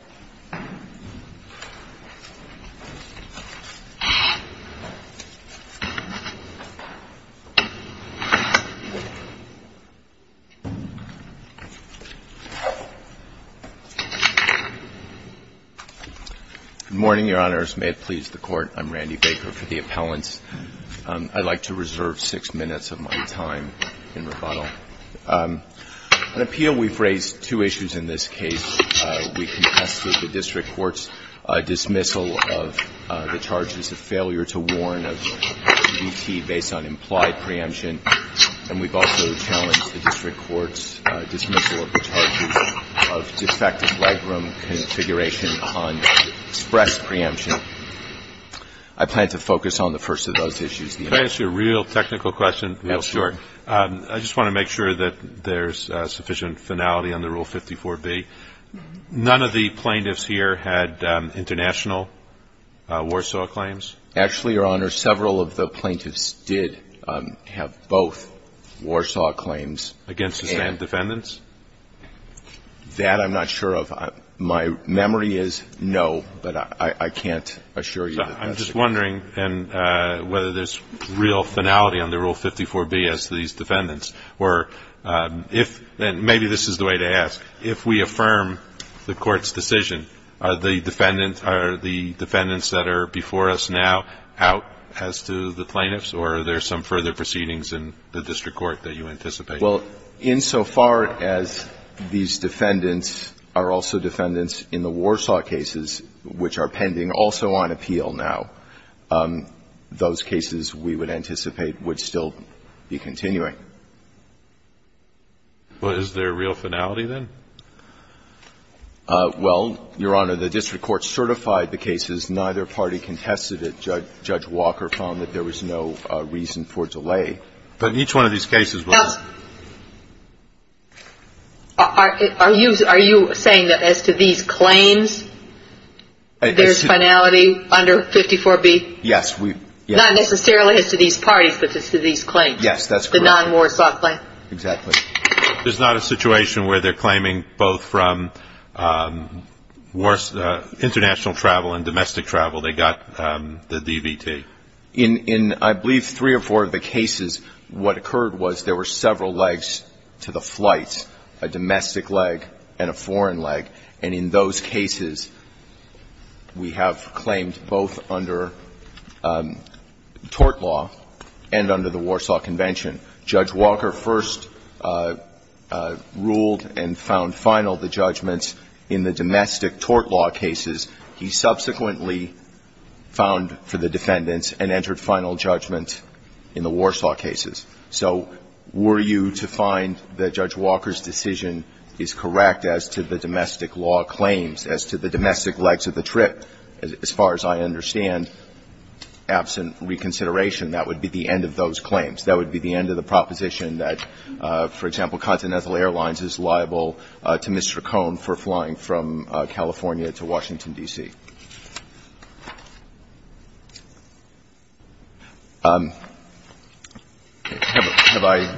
Good morning, Your Honors. May it please the Court, I'm Randy Baker for the Appellants. I'd like to reserve six minutes of my time in rebuttal. On appeal, we've raised two issues in this case. We contested the District Court's dismissal of the charges of failure to warn of D.T. based on implied preemption, and we've also challenged the District Court's dismissal of the charges of defective legroom configuration on expressed preemption. I plan to focus on the first of those issues. THE COURT May I ask you a real technical question? THE APPELLANT Yes, Your Honor. THE COURT I just want to make sure that there's sufficient finality under Rule 54b. None of the plaintiffs here had international Warsaw claims? THE APPELLANT Actually, Your Honor, several of the plaintiffs did have both Warsaw claims. THE COURT Against the same defendants? THE APPELLANT That I'm not sure of. My memory is no, but I can't assure you that that's the case. THE COURT Okay. And whether there's real finality under Rule 54b as to these defendants or if, and maybe this is the way to ask, if we affirm the Court's decision, are the defendants that are before us now out as to the plaintiffs, or are there some further proceedings in the District Court that you anticipate? THE APPELLANT Well, insofar as these defendants are also defendants in the Warsaw cases, which are pending, also on appeal now, those cases we would anticipate would still be continuing. THE COURT Well, is there real finality, then? THE APPELLANT Well, Your Honor, the District Court certified the cases. Neither party contested it. Judge Walker found that there was no reason for delay. THE COURT But each one of these cases was not. THE COURT Are you saying that as to these claims, there's finality under 54b? THE APPELLANT Yes. THE COURT Not necessarily as to these parties, but as to these claims? THE APPELLANT Yes, that's correct. THE COURT The non-Warsaw claim? THE APPELLANT Exactly. There's not a situation where they're claiming both from international travel and domestic travel. They got the DVT. THE COURT In, I believe, three or four of the cases, what occurred was there were several legs to the flight, a domestic leg and a foreign leg. And in those cases, we have claimed both under tort law and under the Warsaw Convention. Judge Walker first ruled and found final the judgments in the domestic tort law cases. He subsequently found for the defendants and entered final judgment in the Warsaw cases. So were you to find that Judge Walker's decision is correct as to the domestic law claims, as to the domestic legs of the trip, as far as I understand, absent reconsideration, that would be the end of those claims. That would be the end of the proposition that, for example, Continental Airlines is liable to Mr. Cohn for flying from California to Washington, D.C. Have I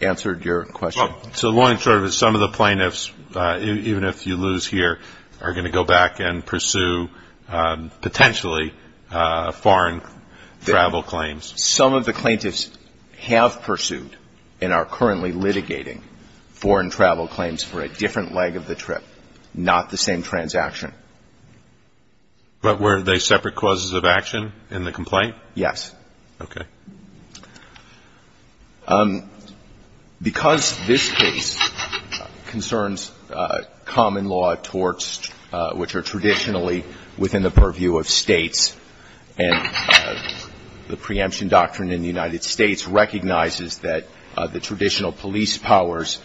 answered your question? THE COURT So the long and short of it is some of the plaintiffs, even if you lose here, are going to go back and pursue potentially foreign travel claims. THE WITNESS Some of the plaintiffs have pursued and are currently litigating foreign travel claims for a different leg of the trip, not the same transaction. THE COURT But were they separate causes of action in the complaint? THE WITNESS Yes. THE COURT Okay. THE WITNESS Because this case concerns common law torts, which are traditionally within the purview of States, and the preemption doctrine in the United States recognizes that the traditional police powers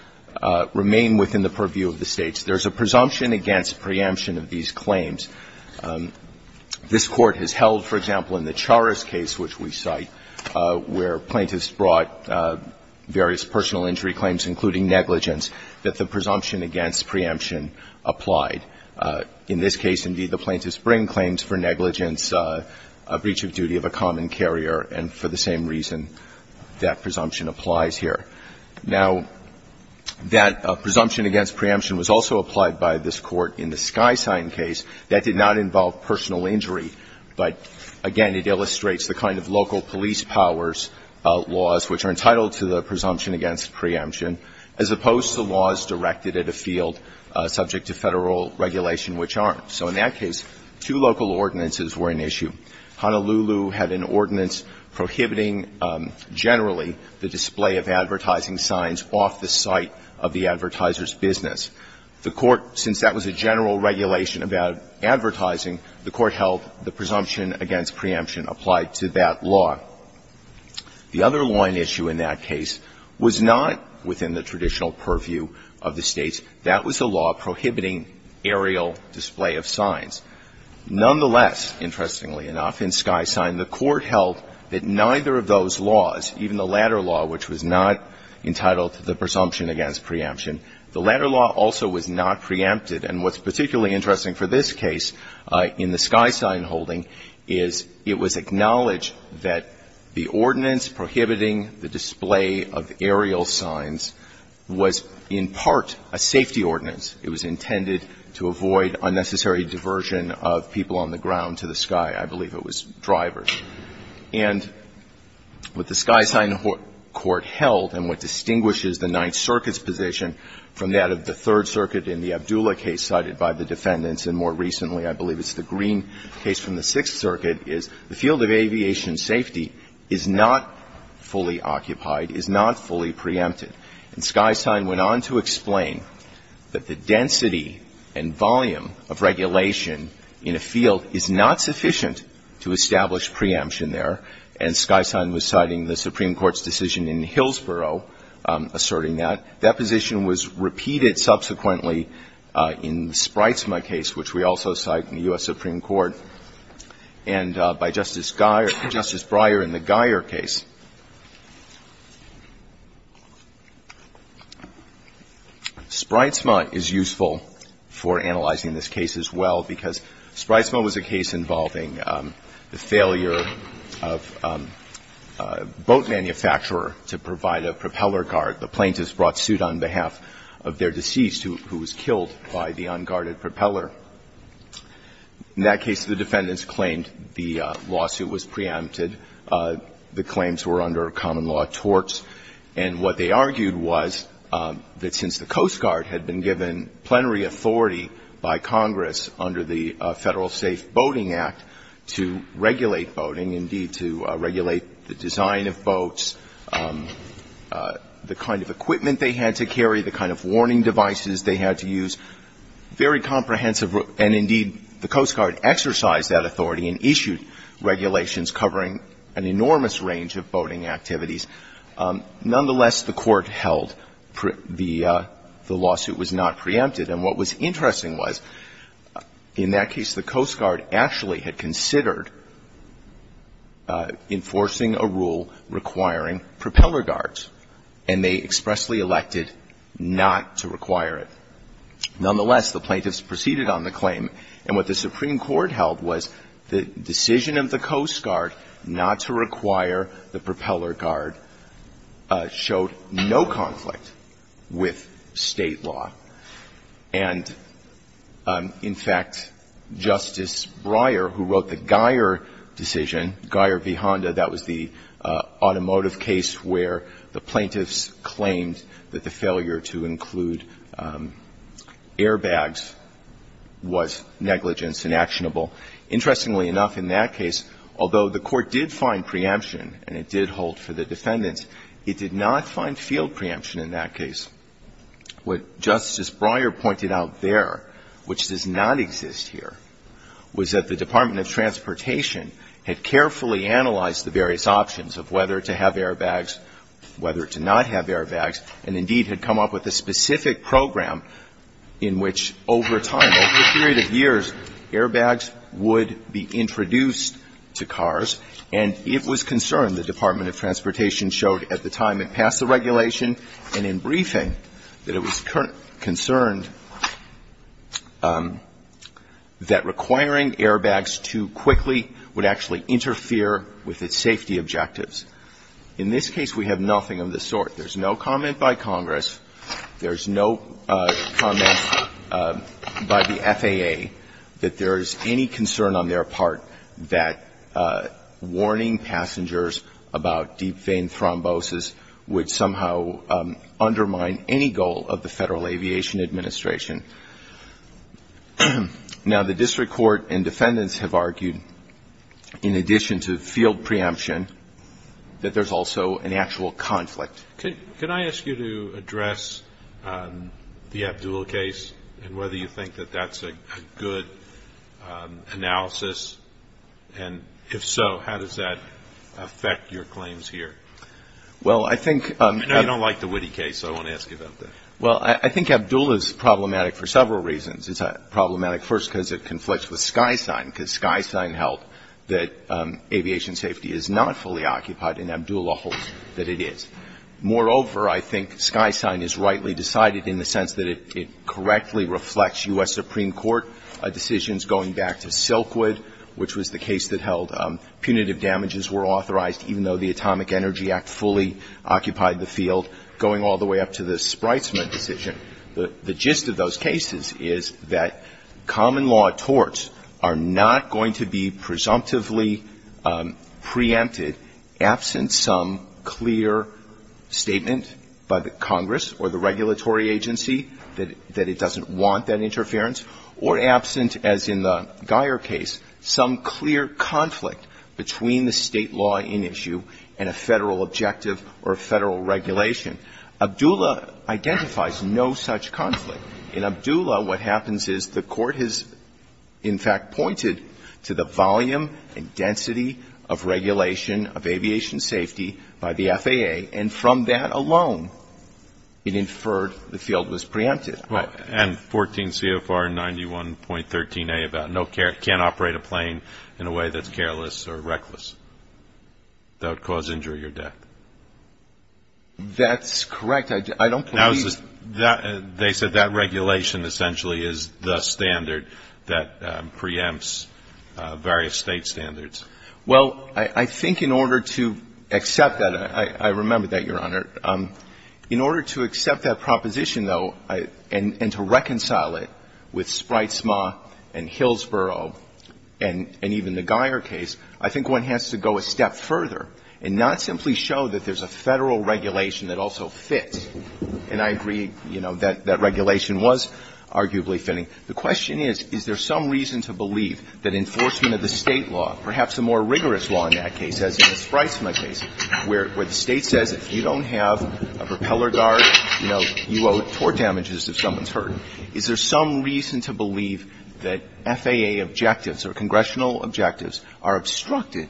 remain within the purview of the States. There is a presumption against preemption of these claims. This Court has held, for example, in the Charest case, which we cite, where plaintiffs brought various personal injury claims, including negligence, that the presumption against preemption applied. In this case, indeed, the plaintiffs bring claims for negligence, a breach of duty of a common carrier, and for the same reason that presumption applies here. Now, that presumption against preemption was also applied by this Court in the Skysign case. That did not involve personal injury, but, again, it illustrates the kind of local police powers laws which are entitled to the presumption against preemption, as opposed to laws directed at a field subject to Federal regulation which aren't. So in that case, two local ordinances were an issue. Honolulu had an ordinance prohibiting, generally, the display of advertising signs off the site of the advertiser's business. The Court, since that was a general regulation about advertising, the Court held the presumption against preemption applied to that law. The other line issue in that case was not within the traditional purview of the States. That was a law prohibiting aerial display of signs. Nonetheless, interestingly enough, in Skysign, the Court held that neither of those laws, even the latter law, which was not entitled to the presumption against preemption, the latter law also was not preempted. And what's particularly interesting for this case in the Skysign holding is it was acknowledged that the ordinance prohibiting the display of aerial signs was in part a safety ordinance. It was intended to avoid unnecessary diversion of people on the ground to the sky. I believe it was drivers. And what the Skysign Court held and what distinguishes the Ninth Circuit's position from that of the Third Circuit in the Abdullah case cited by the defendants and more recently, I believe it's the Green case from the Sixth Circuit, is the field of aviation safety is not fully occupied, is not fully preempted. And Skysign went on to explain that the density and volume of regulation in a field is not sufficient to establish preemption there. And Skysign was citing the Supreme Court's decision in Hillsborough asserting that. That position was repeated subsequently in the Spreizma case, which we also cite in the U.S. Supreme Court, and by Justice Geyer – Justice Breyer in the Geyer case. Spreizma is useful for analyzing this case as well, because Spreizma was a case involving the failure of a boat manufacturer to provide a propeller guard. The plaintiffs brought suit on behalf of their deceased, who was killed by the unguarded propeller. In that case, the defendants claimed the lawsuit was preempted. The claims were under common law torts. And what they argued was that since the Coast Guard had been given plenary authority by Congress under the Federal Safe Boating Act to regulate boating, indeed, to regulate the design of boats, the kind of equipment they had to carry, the kind of warning devices they had to use, very comprehensive. And indeed, the Coast Guard exercised that authority and issued regulations covering an enormous range of boating activities. Nonetheless, the Court held the lawsuit was not preempted. And what was interesting was, in that case, the Coast Guard actually had considered enforcing a rule requiring propeller guards. And they expressly elected not to require it. Nonetheless, the plaintiffs proceeded on the claim. And what the Supreme Court held was the decision of the Coast Guard not to require the propeller guard showed no conflict with State law. And, in fact, Justice Breyer, who wrote the Geier decision, Geier v. Honda, that was the automotive case where the plaintiffs claimed that the failure to include airbags was negligence, inactionable. Interestingly enough, in that case, although the Court did find preemption, and it did hold for the defendants, it did not find field preemption in that case. What Justice Breyer pointed out there, which does not exist here, was that the Department of Transportation had carefully analyzed the various options of whether to have a program in which, over time, over a period of years, airbags would be introduced to cars. And it was concerned, the Department of Transportation showed at the time it passed the regulation and in briefing, that it was concerned that requiring airbags too quickly would actually interfere with its safety objectives. In this case, we have nothing of the sort. There's no comment by Congress. There's no comment by the FAA that there is any concern on their part that warning passengers about deep vein thrombosis would somehow undermine any goal of the Federal Aviation Administration. Now, the district court and defendants have argued, in addition to field preemption, that there's also an actual conflict. Can I ask you to address the Abdul case and whether you think that that's a good analysis? And if so, how does that affect your claims here? Well, I think... You know, you don't like the Witte case, so I want to ask you about that. Well, I think Abdul is problematic for several reasons. It's problematic, first, because it conflicts with SkySign, because SkySign held that aviation safety is not fully occupied, and Abdul holds that it is. Moreover, I think SkySign is rightly decided in the sense that it correctly reflects U.S. Supreme Court decisions going back to Silkwood, which was the case that held punitive damages were authorized, even though the Atomic Energy Act fully occupied the field, going all the way up to the Spreizman decision. The gist of those cases is that common law torts are not going to be presumptively preempted absent some clear statement by the Congress or the regulatory agency that it doesn't want that interference, or absent, as in the Geier case, some clear conflict between the state law in issue and a Federal objective or a Federal regulation. Abdulla identifies no such conflict. In Abdulla, what happens is the Court has, in fact, pointed to the volume and density of regulation of aviation safety by the FAA, and from that alone, it inferred the field was preempted. And 14 CFR 91.13a about no care, can't operate a plane in a way that's careless or reckless, that would cause injury or death. That's correct. I don't believe that. They said that regulation essentially is the standard that preempts various state standards. Well, I think in order to accept that, I remember that, Your Honor. In order to accept that proposition, though, and to reconcile it with Spreizman and Hillsborough and even the Geier case, I think one has to go a step further and not simply show that there's a Federal regulation that also fits. And I agree, you know, that that regulation was arguably fitting. The question is, is there some reason to believe that enforcement of the state law, perhaps a more rigorous law in that case, as in the Spreizman case, where the State says if you don't have a propeller guard, you know, you owe tort damages if someone's hurt, is there some reason to believe that FAA objectives or congressional objectives are obstructed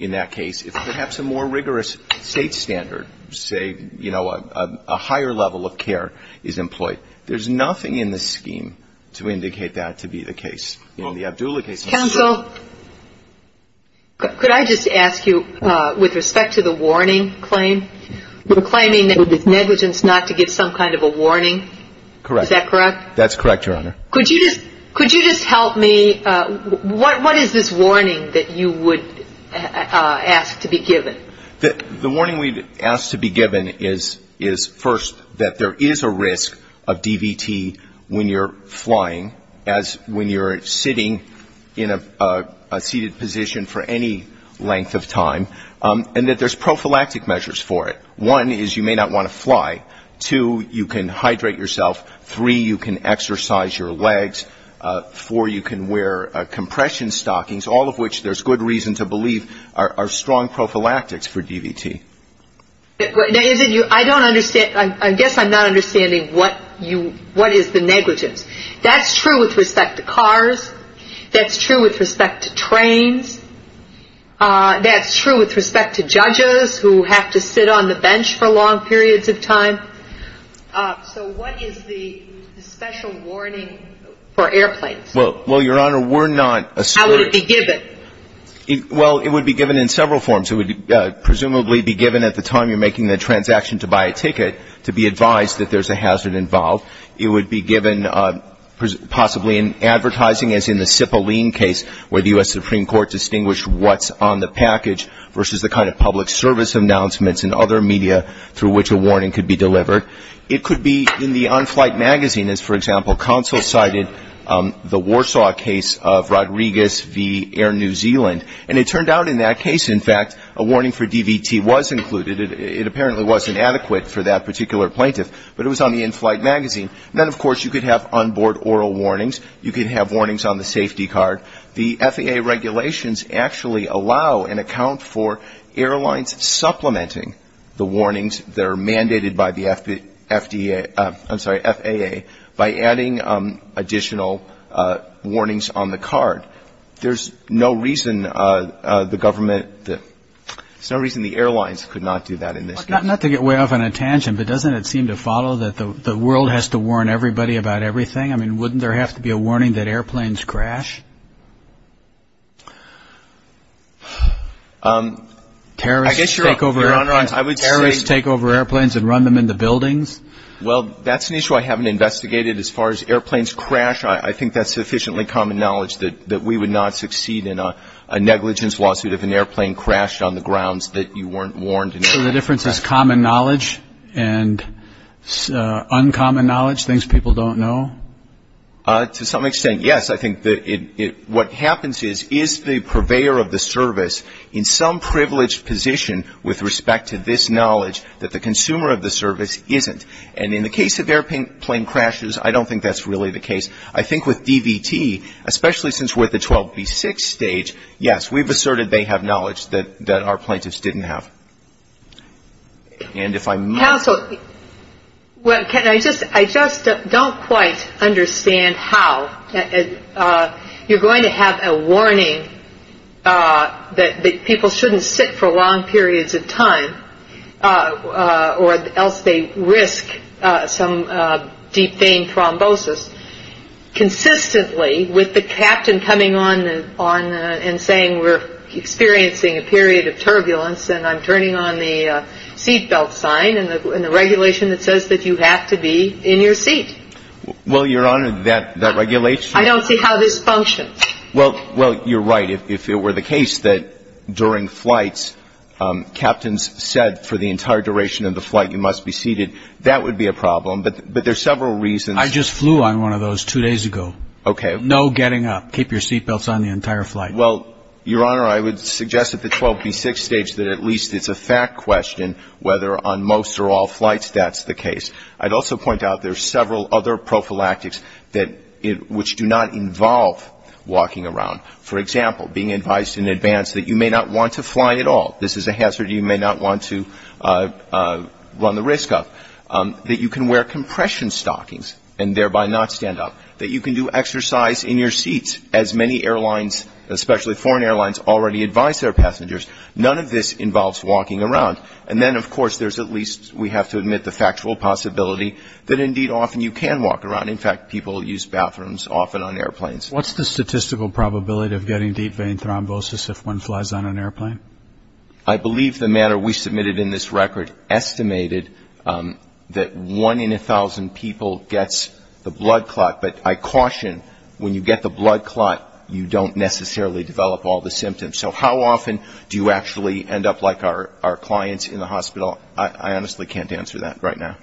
in that case if perhaps a more rigorous state standard, say, you know, a higher level of care is employed? There's nothing in the scheme to indicate that to be the case. In the Abdullah case, it's true. Counsel, could I just ask you, with respect to the warning claim, we're claiming that it's negligence not to give some kind of a warning. Correct. Is that correct? That's correct, Your Honor. Could you just help me, what is this warning that you would ask to be given? The warning we'd ask to be given is, first, that there is a risk of DVT when you're flying, as when you're sitting in a seated position for any length of time, and that there's prophylactic measures for it. One is you may not want to fly. Two, you can hydrate yourself. Three, you can exercise your legs. Four, you can wear compression stockings, all of which, there's good reason to believe, are strong prophylactics for DVT. Now, is it you, I don't understand, I guess I'm not understanding what you, what is the negligence? That's true with respect to cars. That's true with respect to trains. That's true with respect to judges who have to sit on the bench for long periods of time. So what is the special warning for airplanes? Well, Your Honor, we're not asserting. How would it be given? Well, it would be given in several forms. It would presumably be given at the time you're making the transaction to buy a ticket, to be advised that there's a hazard involved. It would be given possibly in advertising, as in the Cipollin case, where the U.S. Supreme Court distinguished what's on the package versus the kind of public service announcements and other media through which a warning could be delivered. It could be in the on-flight magazine, as, for example, counsel cited the Warsaw case of Rodriguez v. Air New Zealand. And it turned out in that case, in fact, a warning for DVT was included. It apparently wasn't adequate for that particular plaintiff. But it was on the in-flight magazine. And then, of course, you could have onboard oral warnings. You could have warnings on the safety card. The FAA regulations actually allow and account for airlines supplementing the warnings that are mandated by the FDA, I'm sorry, FAA, by adding additional warnings on the card. There's no reason the government, there's no reason the airlines could not do that in this case. Not to get way off on a tangent, but doesn't it seem to follow that the world has to warn everybody about everything? I mean, wouldn't there have to be a warning that airplanes crash? Terrorists take over airplanes and run them into buildings? Well, that's an issue I haven't investigated. As far as airplanes crash, I think that's sufficiently common knowledge that we would not succeed in a negligence lawsuit if an airplane crashed on the grounds that you weren't warned. So the difference is common knowledge and uncommon knowledge, things people don't know? To some extent, yes. I think what happens is, is the purveyor of the service in some privileged position with respect to this knowledge that the consumer of the service isn't? And in the case of airplane crashes, I don't think that's really the case. I think with DVT, especially since we're at the 12B6 stage, yes, we've asserted they have knowledge that our plaintiffs didn't have. Counsel, I just don't quite understand how you're going to have a warning that people shouldn't sit for long periods of time or else they risk some deep vein thrombosis. Consistently with the captain coming on and saying we're experiencing a period of turbulence and I'm turning on the seatbelt sign and the regulation that says that you have to be in your seat. Well, Your Honor, that regulation... I don't see how this functions. Well, you're right. If it were the case that during flights, captains said for the entire duration of the flight you must be seated, that would be a problem. But there's several reasons... I just flew on one of those two days ago. Okay. No getting up. Keep your seatbelts on the entire flight. Well, Your Honor, I would suggest at the 12B6 stage that at least it's a fact question whether on most or all flights that's the case. I'd also point out there's several other prophylactics which do not involve walking around. For example, being advised in advance that you may not want to fly at all. This is a hazard you may not want to run the risk of. That you can wear compression stockings and thereby not stand up. That you can do exercise in your seats as many airlines, especially foreign airlines, already advise their passengers. None of this involves walking around. And then, of course, there's at least we have to admit the factual possibility that indeed often you can walk around. In fact, people use bathrooms often on airplanes. What's the statistical probability of getting deep vein thrombosis if one flies on an airplane? I believe the matter we submitted in this record estimated that one in a million people in the United States have deep vein thrombosis. But I caution, when you get the blood clot, you don't necessarily develop all the symptoms. So how often do you actually end up like our clients in the hospital? I honestly can't answer that right now.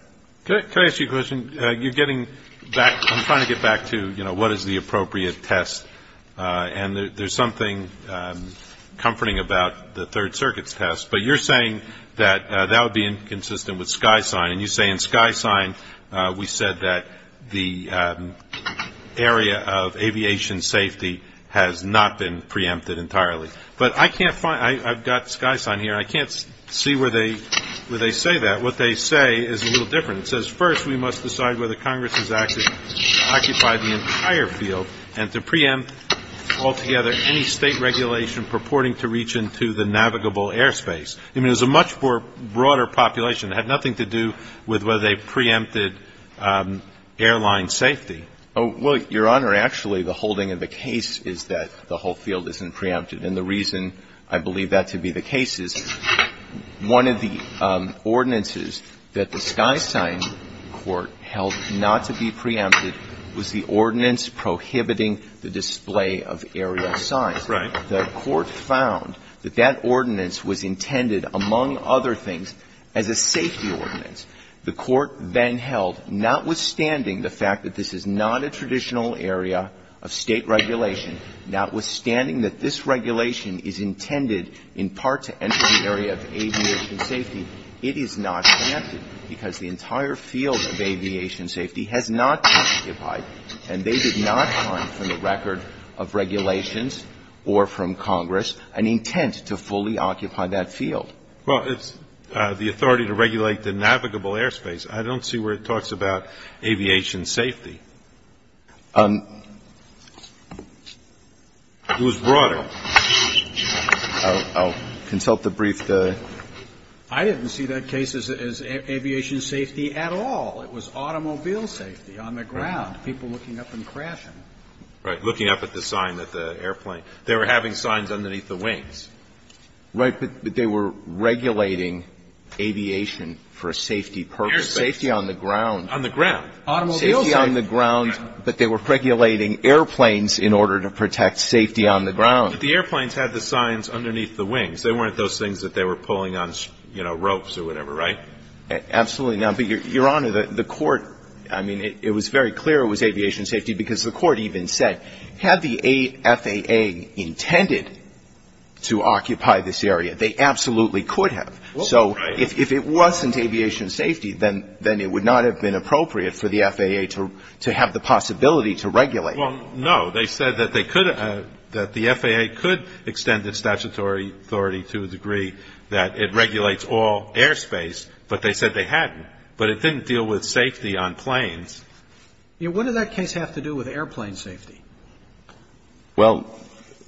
Can I ask you a question? You're getting back, I'm trying to get back to, you know, what is the appropriate test? And there's something comforting about the Third Circuit's test. But you're saying that that would be inconsistent with SkySign. And you say, in SkySign, we said that the area of aviation safety has not been preempted entirely. But I can't find, I've got SkySign here. I can't see where they say that. What they say is a little different. It says, first, we must decide whether Congress has occupied the entire field and to preempt altogether any state regulation purporting to reach into the navigable airspace. I mean, it was a much broader population. It had nothing to do with whether they preempted airline safety. Oh, well, Your Honor, actually, the holding of the case is that the whole field isn't preempted. And the reason I believe that to be the case is one of the ordinances that the SkySign court held not to be preempted was the ordinance prohibiting the display of aerial signs. Right. The court found that that ordinance was intended, among other things, as a safety ordinance. The court then held, notwithstanding the fact that this is not a traditional area of state regulation, notwithstanding that this regulation is intended in part to enter the area of aviation safety, it is not preempted because the entire field of aviation safety has not been occupied. And they did not find from the record of regulations or from Congress an intent to fully occupy that field. Well, it's the authority to regulate the navigable airspace. I don't see where it talks about aviation safety. It was broader. I'll consult the brief. I didn't see that case as aviation safety at all. It was automobile safety on the ground, people looking up and crashing. Right. Looking up at the sign at the airplane. They were having signs underneath the wings. Right. But they were regulating aviation for a safety purpose. Airspace. Safety on the ground. On the ground. Automobile safety. Safety on the ground, but they were regulating airplanes in order to protect safety on the ground. But the airplanes had the signs underneath the wings. They weren't those things that they were pulling on, you know, ropes or whatever, right? Absolutely not. But, Your Honor, the court, I mean, it was very clear it was aviation safety because the court even said, had the FAA intended to occupy this area, they absolutely could have. So if it wasn't aviation safety, then it would not have been appropriate for the FAA to have the possibility to regulate. Well, no. They said that they could, that the FAA could extend its statutory authority to a degree that it regulates all airspace, but they said they hadn't. But it didn't deal with safety on planes. You know, what did that case have to do with airplane safety? Well,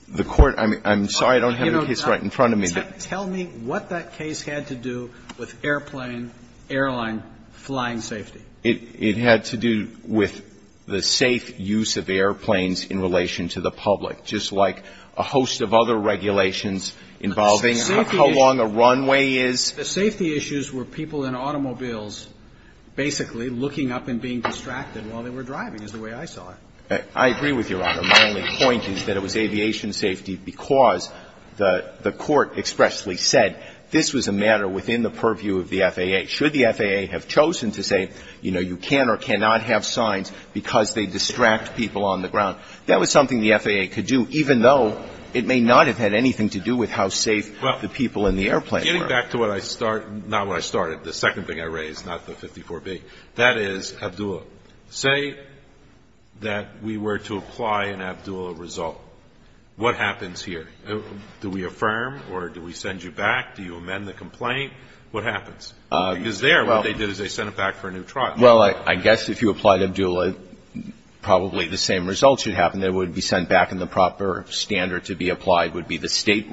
the court, I'm sorry I don't have the case right in front of me. Tell me what that case had to do with airplane, airline, flying safety. It had to do with the safe use of airplanes in relation to the public, just like a host of other regulations involving how long a runway is. The safety issues were people in automobiles basically looking up and being distracted while they were driving, is the way I saw it. I agree with Your Honor. My only point is that it was aviation safety because the court expressly said this was a matter within the purview of the FAA. Should the FAA have chosen to say, you know, you can or cannot have signs because they distract people on the ground, that was something the FAA could do, even though it may not have had anything to do with how safe the people in the airplane were. That's not the 54B. That is, Abdullah, say that we were to apply an Abdullah result. What happens here? Do we affirm or do we send you back? Do you amend the complaint? What happens? Because there, what they did is they sent him back for a new trial. Well, I guess if you applied Abdullah, probably the same result should happen. It would be sent back and the proper standard to be applied would be the state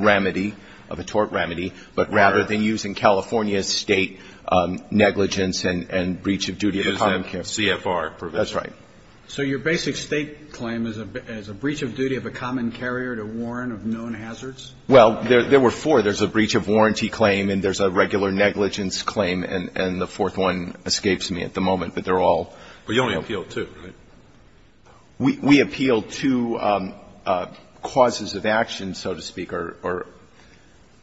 So your basic state claim is a breach of duty of a common carrier to warn of known hazards? Well, there were four. There's a breach of warranty claim and there's a regular negligence claim and the fourth one escapes me at the moment. But they're all But you only appealed two, right? We appealed two causes of action, so to speak. One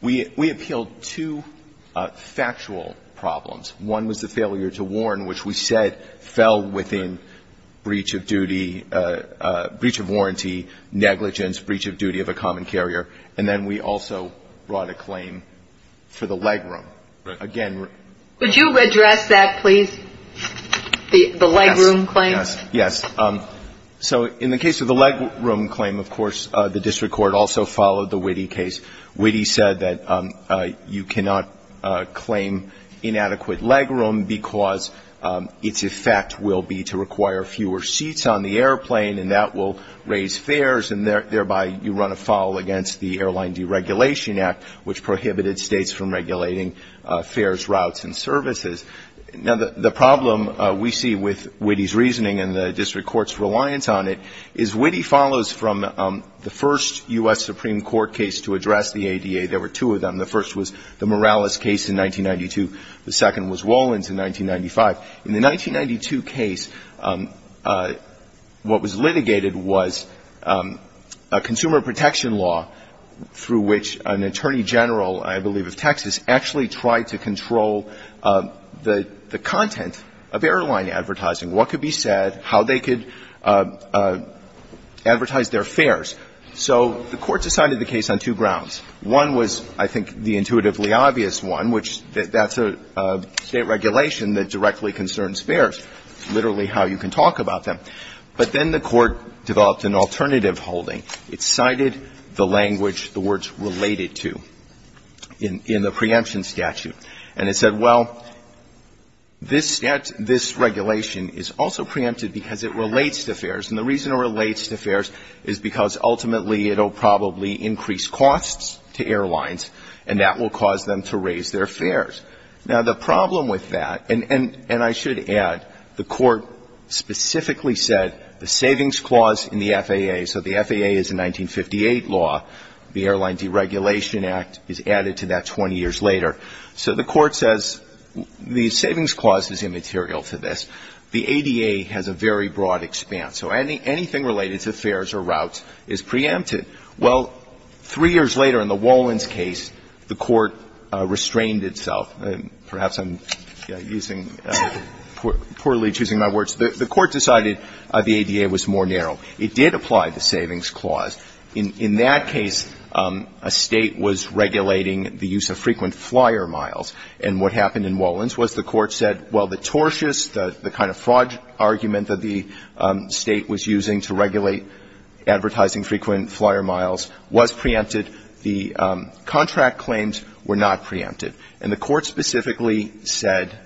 was the failure of a carrier to warn of known hazards. One was the failure to warn, which we said fell within breach of duty, breach of warranty, negligence, breach of duty of a common carrier. And then we also brought a claim for the leg room. Again Would you redress that, please? The leg room claim? Yes. Yes. So in the case of the leg room claim, of course, the district court also followed the Witte case. Witte said that you cannot claim inadequate leg room because its effect will be to require fewer seats on the airplane and that will raise fares and thereby you run a foul against the Airline Deregulation Act, which prohibited states from regulating fares, routes, and services. Now, the problem we see with Witte's reasoning and the district court's reliance on it is Witte follows from the first U.S. Supreme Court case to address the ADA. There were two of them. The first was the Morales case in 1992. The second was Wolins in 1995. In the 1992 case, what was litigated was a consumer protection law through which an attorney general, I believe of Texas, actually tried to control the content of the advertised their fares. So the court decided the case on two grounds. One was, I think, the intuitively obvious one, which that's a state regulation that directly concerns fares, literally how you can talk about them. But then the court developed an alternative holding. It cited the language, the words, related to in the preemption statute. And it said, well, this regulation is also preempted because it relates to fares. And the reason it relates to fares is because ultimately it will probably increase costs to airlines. And that will cause them to raise their fares. Now, the problem with that, and I should add, the court specifically said the savings clause in the FAA, so the FAA is a 1958 law. The Airline Deregulation Act is added to that 20 years later. So the court says the savings clause is immaterial to this. The ADA has a very broad expanse. So anything related to fares or routes is preempted. Well, three years later in the Wolins case, the court restrained itself. Perhaps I'm using, poorly choosing my words. The court decided the ADA was more narrow. It did apply the savings clause. In that case, a state was regulating the use of frequent flyer miles. And what happened in Wolins was the court said, well, the tortious, the kind of fraud argument that the state was using to regulate advertising frequent flyer miles was preempted. The contract claims were not preempted. And the court specifically said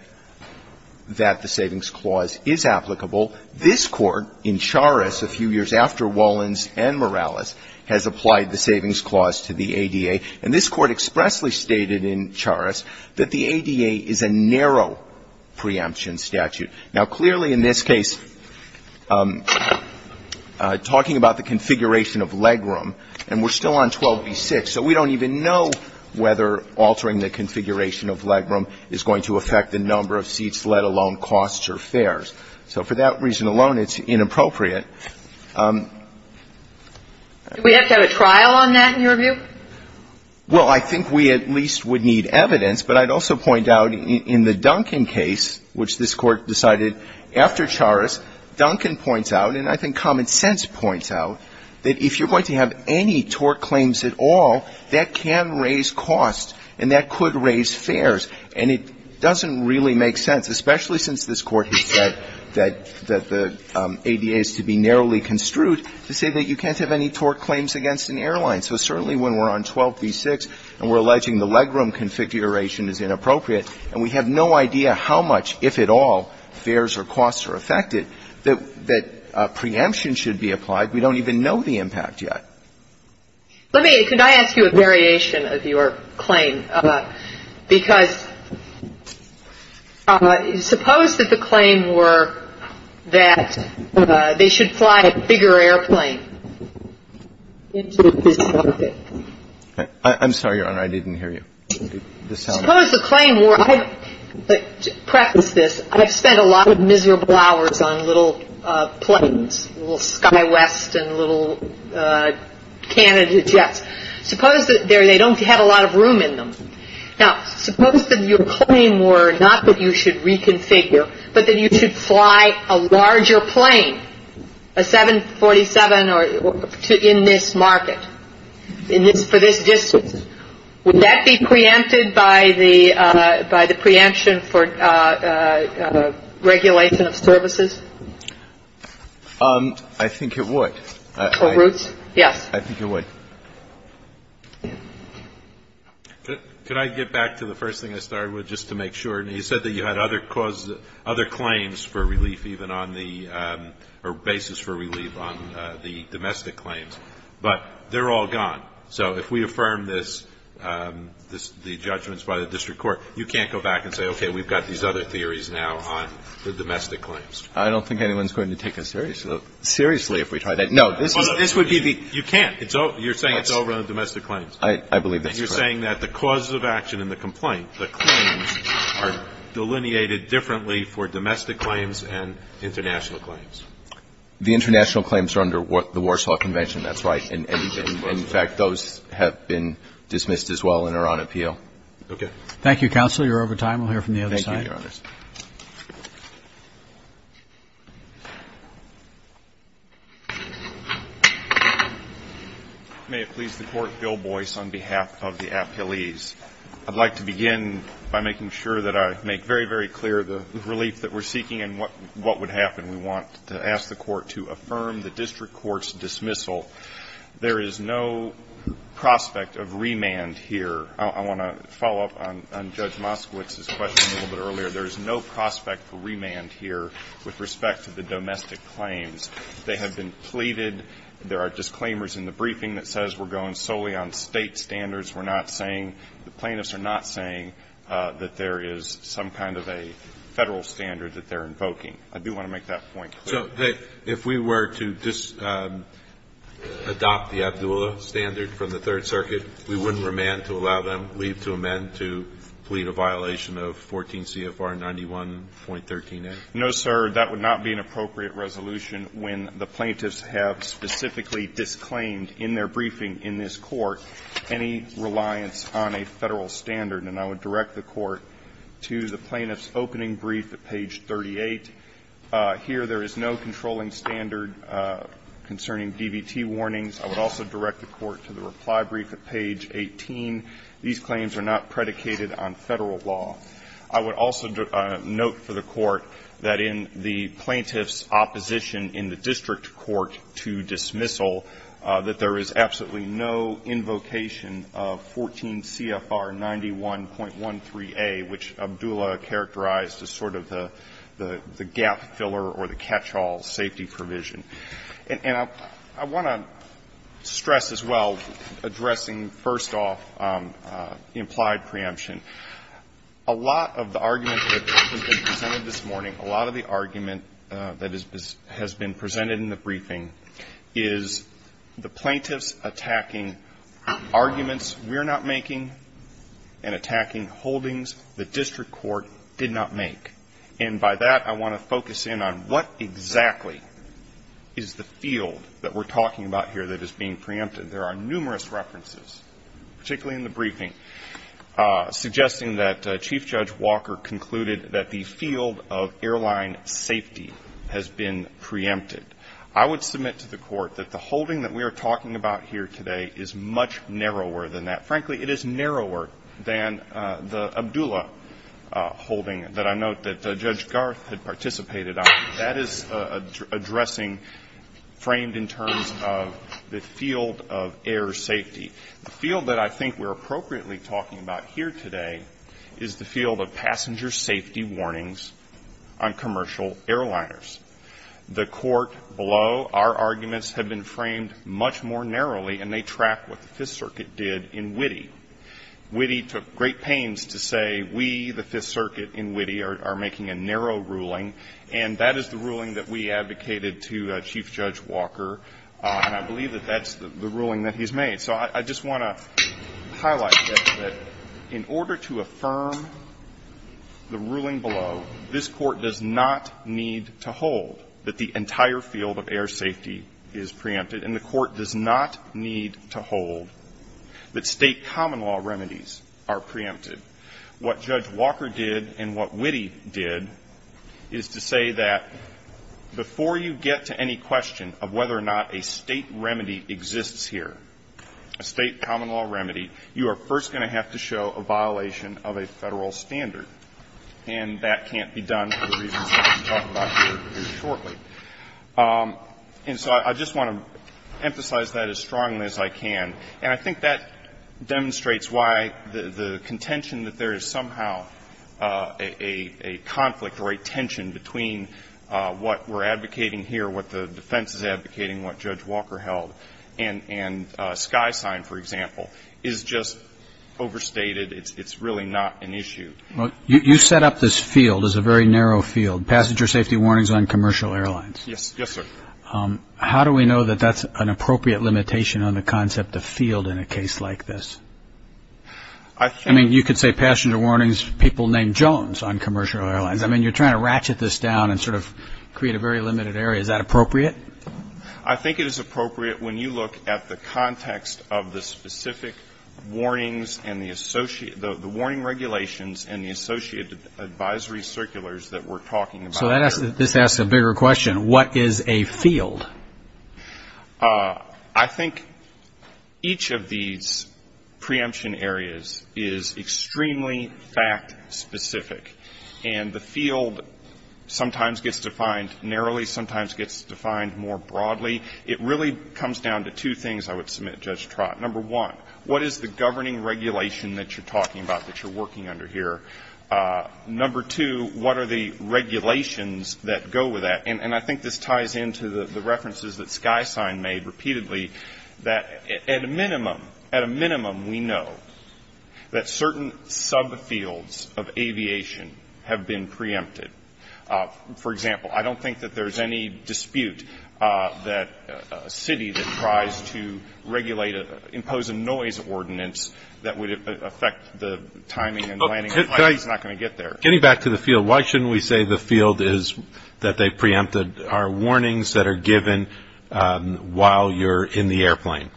that the savings clause is applicable. This court in Charas, a few years after Wolins and Morales, has applied the savings clause to the ADA. And this court expressly stated in Charas that the ADA is a narrow preemption statute. Now, clearly in this case, talking about the configuration of legroom, and we're still on 12b-6, so we don't even know whether altering the configuration of legroom is going to affect the number of seats, let alone costs or fares. So for that reason alone, it's inappropriate. Do we have to have a trial on that in your view? Well, I think we at least would need evidence. But I'd also point out in the Duncan case, which this Court decided after Charas, Duncan points out, and I think Common Sense points out, that if you're going to have any tort claims at all, that can raise costs and that could raise fares. And it doesn't really make sense, especially since this Court has said that the ADA is to be narrowly construed, to say that you can't have any tort claims against an airline. So certainly when we're on 12b-6 and we're alleging the legroom configuration is inappropriate, and we have no idea how much, if at all, fares or costs are affected, that preemption should be applied, we don't even know the impact yet. Let me ask you a variation of your claim, because suppose that the claim were that they should fly a bigger airplane into this market. I'm sorry, Your Honor, I didn't hear you. Suppose the claim were, to preface this, I've spent a lot of miserable hours on little planes, little Skywest and little Canada jets. Suppose that they don't have a lot of room in them. Now, suppose that your claim were not that you should reconfigure, but that you should fly a larger plane, a 747 in this market, for this distance. Would that be preempted by the preemption for regulation of services? I think it would. Or routes? Yes. I think it would. Could I get back to the first thing I started with, just to make sure? You said that you had other claims for relief even on the basis for relief on the domestic claims, but they're all gone. So if we affirm this, the judgments by the district court, you can't go back and say, okay, we've got these other theories now on the domestic claims. I don't think anyone's going to take us seriously if we try that. No. You can't. You're saying it's over on the domestic claims. I believe that's correct. You're saying that the causes of action in the complaint, the claims, are delineated differently for domestic claims and international claims. The international claims are under the Warsaw Convention. That's right. And, in fact, those have been dismissed as well and are on appeal. Okay. Thank you, Counselor. You're over time. We'll hear from the other side. Thank you, Your Honors. May it please the Court, Bill Boyce, on behalf of the appellees. I'd like to begin by making sure that I make very, very clear the relief that we're seeking and what would happen. We want to ask the Court to affirm the district court's dismissal. There is no prospect of remand here. I want to follow up on Judge Moskowitz's question a little bit earlier. There is no prospect for remand here with respect to the domestic claims. They have been pleaded. There are disclaimers in the briefing that says we're going solely on state standards. We're not saying, the plaintiffs are not saying that there is some kind of a federal standard that they're invoking. I do want to make that point clear. If we were to adopt the Abdulla standard from the Third Circuit, we wouldn't remand to allow them leave to amend to plead a violation of 14 CFR 91.13a. No, sir. That would not be an appropriate resolution when the plaintiffs have specifically disclaimed in their briefing in this Court any reliance on a federal standard. And I would direct the Court to the plaintiff's opening brief at page 38. Here, there is no controlling standard concerning DBT warnings. I would also direct the Court to the reply brief at page 18. These claims are not predicated on federal law. I would also note for the Court that in the plaintiff's opposition in the district court to dismissal, that there is absolutely no invocation of 14 CFR 91.13a, which Abdulla characterized as sort of the gap filler or the catch-all safety provision. And I want to stress as well, addressing first off implied preemption, a lot of the argument that has been presented this morning, a lot of the argument that has been presented in the briefing, is the plaintiffs attacking arguments we're not making and attacking holdings the district court did not make. And by that, I want to focus in on what exactly is the field that we're talking about here that is being preempted. There are numerous references, particularly in the briefing, suggesting that Chief Judge Walker concluded that the field of airline safety has been preempted. I would submit to the Court that the holding that we are talking about here today is much narrower than that. The field that Judge Garth had participated on, that is addressing framed in terms of the field of air safety. The field that I think we're appropriately talking about here today is the field of passenger safety warnings on commercial airliners. The Court below, our arguments have been framed much more narrowly, and they track what the Fifth Circuit did in Witte. Witte took great pains to say, we, the Fifth Circuit in Witte, are making a narrow ruling, and that is the ruling that we advocated to Chief Judge Walker, and I believe that that's the ruling that he's made. So I just want to highlight that in order to affirm the ruling below, this Court does not need to hold that the entire field of air safety is preempted. And the Court does not need to hold that state common law remedies are preempted. What Judge Walker did and what Witte did is to say that before you get to any question of whether or not a state remedy exists here, a state common law remedy, you are first going to have to show a violation of a federal standard. And that can't be done for the reasons that we'll talk about here shortly. And so I just want to emphasize that as strongly as I can. And I think that demonstrates why the contention that there is somehow a conflict or a tension between what we're advocating here, what the defense is advocating, what Judge Walker held, and Skysign, for example, is just overstated. It's really not an issue. Well, you set up this field as a very narrow field, passenger safety warnings on commercial airlines. Yes, sir. How do we know that that's an appropriate limitation on the concept of field in a case like this? I mean, you could say passenger warnings, people named Jones on commercial airlines. I mean, you're trying to ratchet this down and sort of create a very limited area. Is that appropriate? I think it is appropriate when you look at the context of the specific warnings and the associated, the warning regulations and the associated advisory circulars that we're talking about. So this asks a bigger question. What is a field? I think each of these preemption areas is extremely fact-specific. And the field sometimes gets defined narrowly, sometimes gets defined more broadly. It really comes down to two things, I would submit, Judge Trott. Number one, what is the governing regulation that you're talking about that you're working under here? Number two, what are the regulations that go with that? And I think this ties into the references that SkySign made repeatedly that at a minimum, at a minimum, we know that certain subfields of aviation have been preempted. For example, I don't think that there's any dispute that a city that tries to regulate, impose a noise ordinance that would affect the timing and landing of a plane is not going to get there. Getting back to the field, why shouldn't we say the field is that they preempted are warnings that are given while you're in the airplane?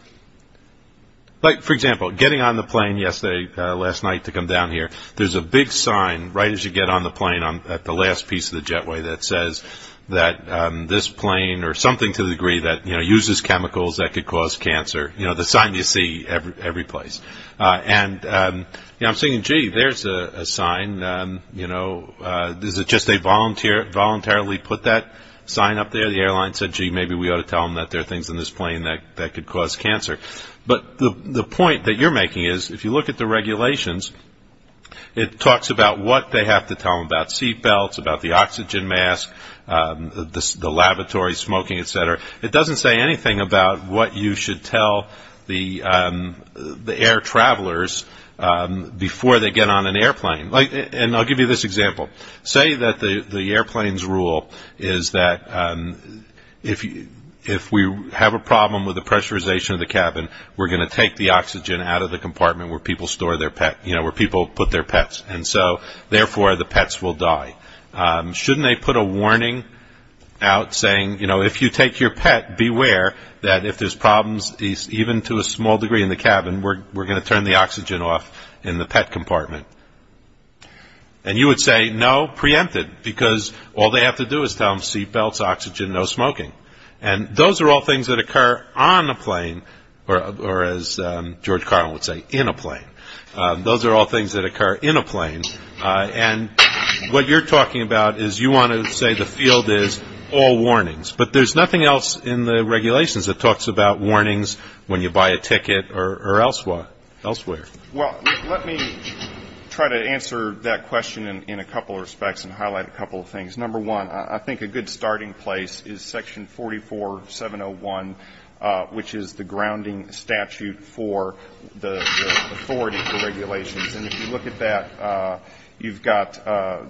Like, for example, getting on the plane last night to come down here, there's a big sign right as you get on the plane at the last piece of the jetway that says that this plane or something to the degree that uses chemicals that could cause cancer, the sign you see every place. And I'm thinking, gee, there's a sign. Is it just they voluntarily put that sign up there? The airline said, gee, maybe we ought to tell them that there are things in this plane that could cause cancer. But the point that you're making is, if you look at the regulations, it talks about what they have to tell them about seatbelts, about the oxygen mask, the laboratory smoking, etc. It doesn't say anything about what you should tell the air travelers before they get on an airplane. And I'll give you this example. Say that the airplane's rule is that if we have a problem with the pressurization of the cabin, we're going to take the oxygen out of the compartment where people put their pets. And so, therefore, the pets will die. Shouldn't they put a warning out saying, if you take your pet, beware that if there's problems, even to a small degree in the cabin, we're going to turn the oxygen off in the pet compartment? And you would say, no, preempted, because all they have to do is tell them seatbelts, oxygen, no smoking. And those are all things that occur on a plane, or as George Carlin would say, in a plane. Those are all things that occur in a plane. And what you're talking about is, you want to say the field is all warnings. But there's nothing else in the regulations that talks about warnings when you buy a ticket or elsewhere. Well, let me try to answer that question in a couple of respects and highlight a couple of things. Number one, I think a good starting place is Section 44701, which is the grounding statute for the authority for regulations. And if you look at that, you've got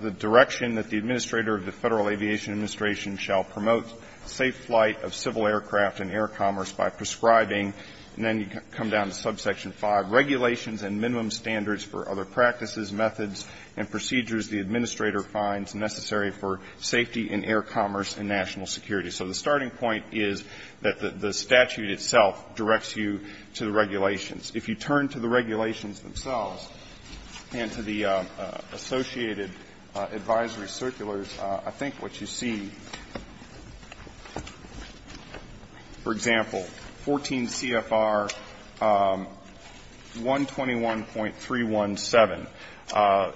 the direction that the Administrator of the Federal Aviation Administration shall promote safe flight of civil aircraft and air commerce by prescribing, and then you come down to Subsection 5, regulations and minimum standards for other practices, methods, and procedures the Administrator finds necessary for safety in air commerce and national security. So the starting point is that the statute itself directs you to the regulations. If you turn to the regulations themselves and to the associated advisory circulars, I think what you see, for example, 14 CFR 121.317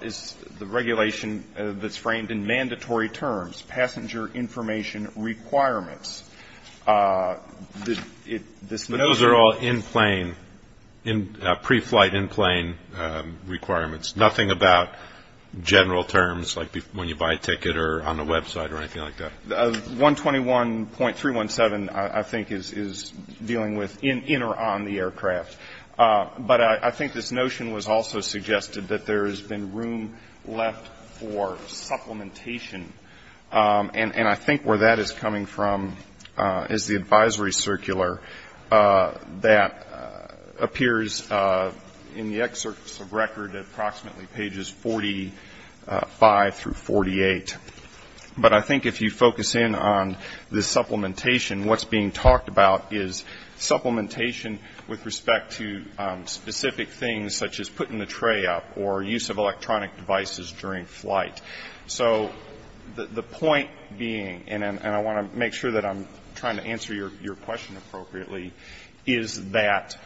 is the regulation that's framed in mandatory terms, passenger information requirements. But those are all in-plane, pre-flight in-plane requirements, nothing about general terms like when you buy a ticket or on the website or anything like that? 121.317, I think, is dealing with in or on the aircraft. But I think this notion was also suggested that there has been room left for supplementation. And I think where that is coming from is the advisory circular that appears in the excerpts of record at approximately pages 45 through 48. But I think if you focus in on the supplementation, what's being talked about is supplementation with respect to specific things such as putting the tray up or use of electronic devices during flight. So the point being, and I want to make sure that I'm trying to answer your question appropriately, is that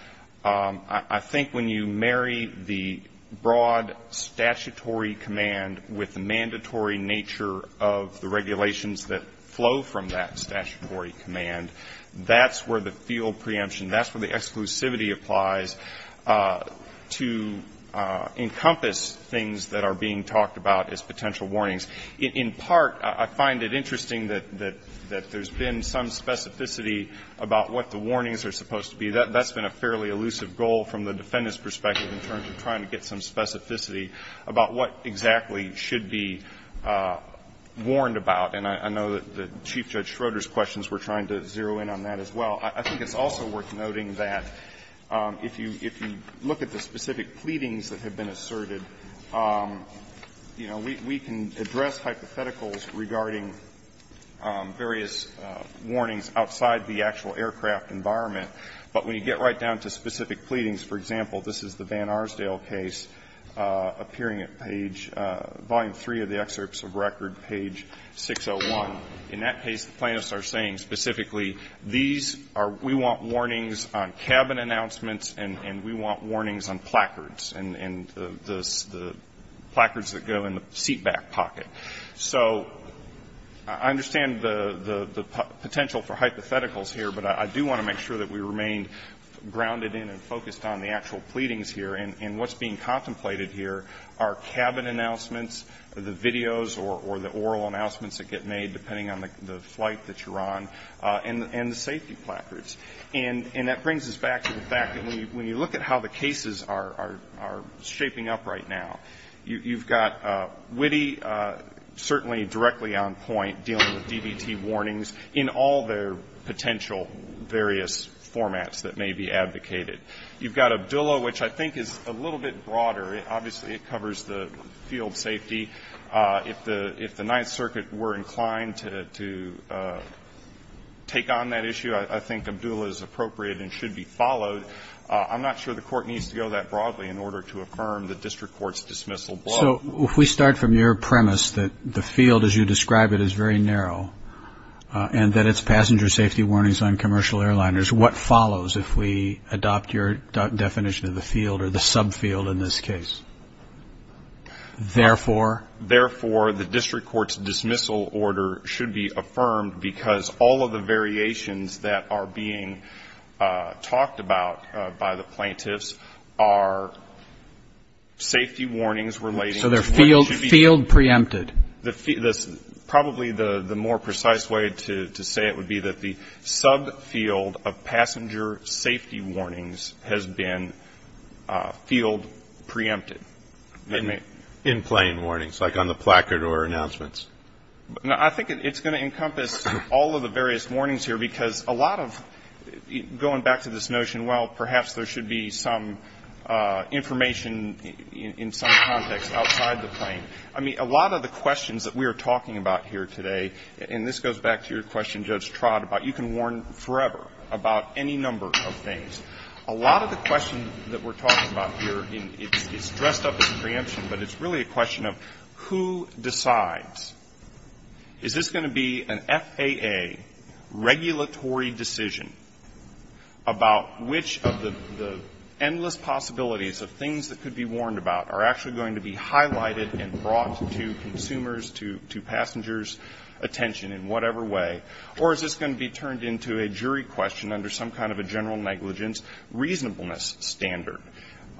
I think when you marry the broad statutory command with the mandatory nature of the regulations that flow from that statutory command, that's where the field preemption, that's where the exclusivity applies to encompass things that are being talked about as potential warnings. In part, I find it interesting that there's been some specificity about what the warnings are supposed to be. That's been a fairly elusive goal from the defendant's perspective in terms of trying to get some specificity about what exactly should be warned about. And I know that Chief Judge Schroeder's questions were trying to zero in on that as well. I think it's also worth noting that if you look at the specific pleadings that have been asserted, you know, we can address hypotheticals regarding various warnings outside the actual aircraft environment. But when you get right down to specific pleadings, for example, this is the Van Arsdale case, appearing at page, Volume 3 of the excerpts of record, page 601. In that case, the plaintiffs are saying specifically, these are, we want warnings on cabin announcements and we want warnings on placards and the placards that go in the seatback pocket. So I understand the potential for hypotheticals here, but I do want to make sure that we remain grounded in and focused on the actual pleadings here. And what's being contemplated here are cabin announcements, the videos or the oral announcements that get made, depending on the flight that you're on, and the safety placards. And that brings us back to the fact that when you look at how the cases are shaping up right now, you've got Witte certainly directly on point dealing with DBT warnings in all their potential various formats that may be advocated. You've got Abdullah, which I think is a little bit broader. Obviously, it covers the field safety. If the Ninth Circuit were inclined to take on that issue, I think Abdullah is appropriate and should be followed. I'm not sure the court needs to go that broadly in order to affirm the district court's dismissal. So if we start from your premise that the field as you describe it is very narrow and that it's passenger safety warnings on commercial airliners, what follows if we adopt your definition of the field or the subfield in this case? Therefore? Therefore, the district court's dismissal order should be affirmed because all of the variations that are being talked about by the plaintiffs are safety warnings relating to what should be... So they're field preempted. Probably the more precise way to say it would be that the subfield of passenger safety warnings has been field preempted. In plain warnings like on the placard or announcements. I think it's going to encompass all of the various warnings here because a lot of... Going back to this notion, well, perhaps there should be some information in some context outside the plain. I mean, a lot of the questions that we are talking about here today and this goes back to your question, Judge Trott, about you can warn forever about any number of things. A lot of the questions that we're talking about here is dressed up as preemption but it's really a question of who decides? Is this going to be an FAA regulatory decision about which of the endless possibilities of things that could be warned about are actually going to be highlighted and brought to consumers, to passengers' attention in whatever way? Or is this going to be turned into a jury question under some kind of general negligence reasonableness standard?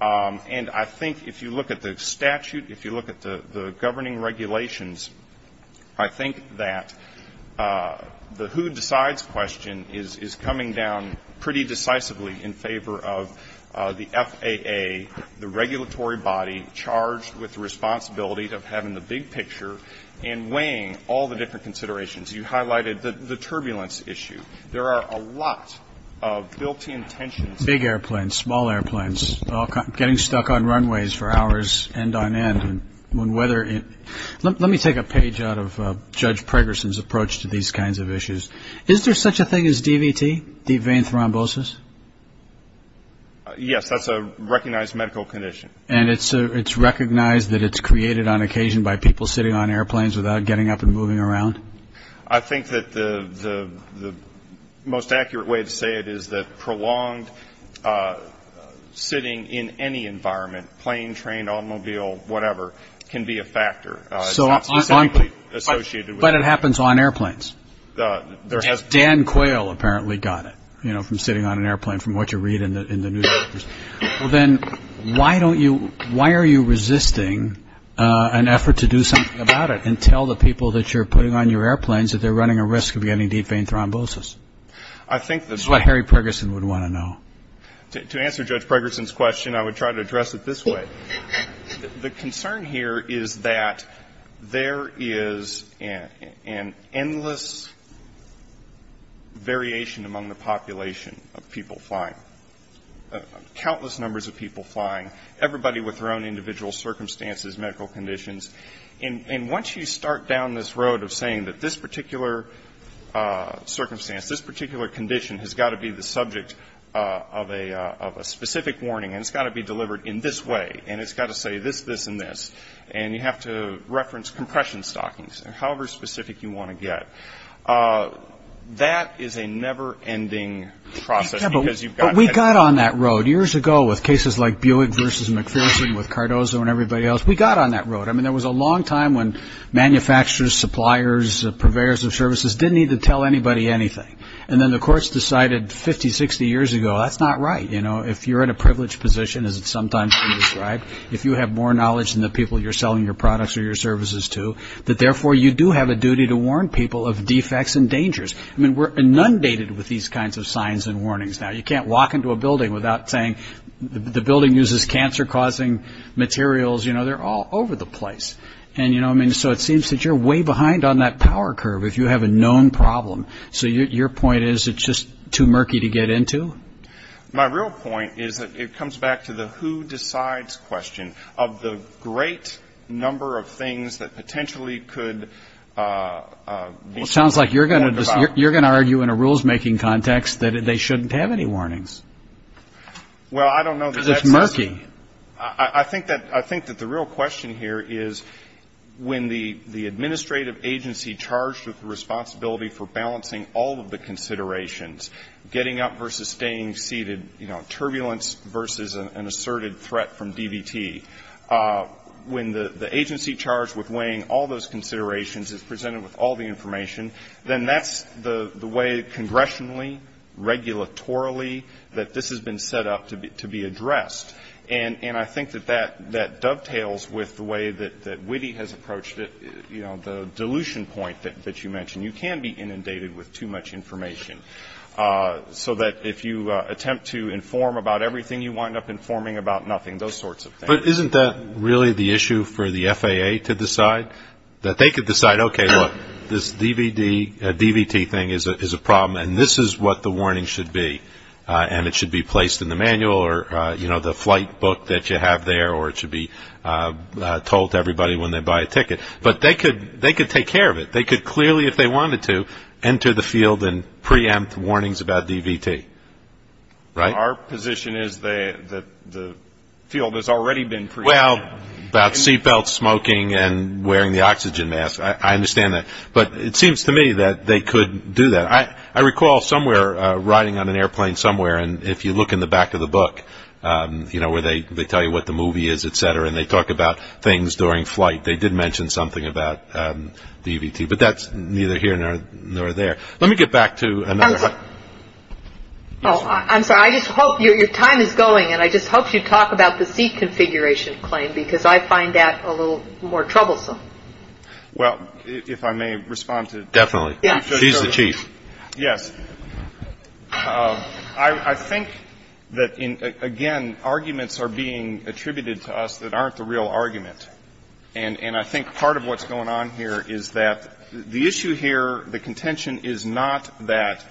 And I think if you look at the statute, if you look at the governing regulations, I think that the who decides question is coming down pretty decisively in favor of the FAA, the regulatory body charged with the responsibility of having the big picture and weighing all the different considerations. You highlighted the turbulence issue. There are a lot of built-in tensions. Big airplanes, small airplanes, getting stuck on runways for hours end-on-end. Let me take a page out of Judge Pregerson's approach to these kinds of issues. Is there such a thing as DVT, deep vein thrombosis? Yes, that's a recognized medical condition. And it's recognized that it's created on occasion by people sitting on airplanes without getting up and moving around? I think that the most accurate way to say it is that prolonged sitting in any environment, plane, train, automobile, whatever, can be a factor. It's not specifically associated with... But it happens on airplanes. Dan Quayle apparently got it, you know, from sitting on an airplane from what you read in the newspapers. Well then, why don't you, why are you resisting an effort to do something about it and tell the people that you're putting on your airplanes that they're running a risk of getting deep vein thrombosis? I think that... That's what Harry Pregerson would want to know. To answer Judge Pregerson's question, I would try to address it this way. The concern here is that there is an endless variation among the population of people flying. Countless numbers of people flying. Everybody with their own individual circumstances, medical conditions. And once you start down this road of saying that this particular circumstance, this particular condition has got to be the subject of a specific warning and it's got to be delivered in this way and it's got to say this, this, and this and you have to reference compression stockings however specific you want to get. That is a never-ending process because you've got... But we got on that road years ago with cases like Buick versus McPherson with Cardozo and everybody else. We got on that road. I mean, there was a long time when manufacturers, suppliers, purveyors of services didn't need to tell anybody anything. And then the courts decided 50, 60 years ago, that's not right. You know, if you're in a privileged position, as it's sometimes been described, if you have more knowledge than the people you're selling your products or your services to, that therefore you do have a duty to warn people of defects and dangers. I mean, we're inundated with these kinds of signs and warnings now. You can't walk into a building without saying, the building uses cancer-causing materials. You know, they're all over the place. And you know, I mean, so it seems that you're way behind on that power curve if you have a known problem. So your point is it's just too murky to get into? My real point is that it comes back to the who-decides question of the great number of things that potentially could... Well, it sounds like you're going to argue in a rules-making context that they shouldn't have any warnings. Well, I don't know that that's... Because it's murky. I think that the real question here is when the administrative agency charged with responsibility for balancing all of the considerations, getting up versus staying seated, you know, turbulence versus an asserted threat from DVT, when the agency charged with weighing all those considerations is presented with all the information, then that's the way congressionally, regulatorily, that this has been set up to be addressed. And I think that that dovetails with the way that Whitty has approached it, you know, the dilution point that you mentioned. You can be inundated with too much information. So that if you attempt to inform about everything, you wind up informing about nothing, those sorts of things. But isn't that really the issue for the FAA to decide? That they could decide, okay, look, this DVD, DVT thing is a problem and this is what the warning should be and it should be placed in the manual or, you know, the flight book that you have there or it should be told to everybody when they buy a ticket. But they could take care of it. They could clearly, if they wanted to, enter the field and preempt warnings about DVT. Right? Our position is that the field has already been preempted. Well, that's a good point about seatbelts, smoking, and wearing the oxygen mask. I understand that. But it seems to me that they could do that. I recall somewhere riding on an airplane somewhere and if you look in the back of the book, you know, where they tell you what the movie is, et cetera, and they talk about things during flight. They did mention something about DVT. But that's neither here nor there. Let me get back to another... I'm sorry, I just hope your time is going and I just hope you're going to talk about the seat configuration claim because I find that a little more troublesome. Well, if I may respond to... Definitely. She's the chief. Yes. I think that, again, arguments are being attributed to us that aren't the real argument. And I think part of what's going on here is that the issue here, the contention is not that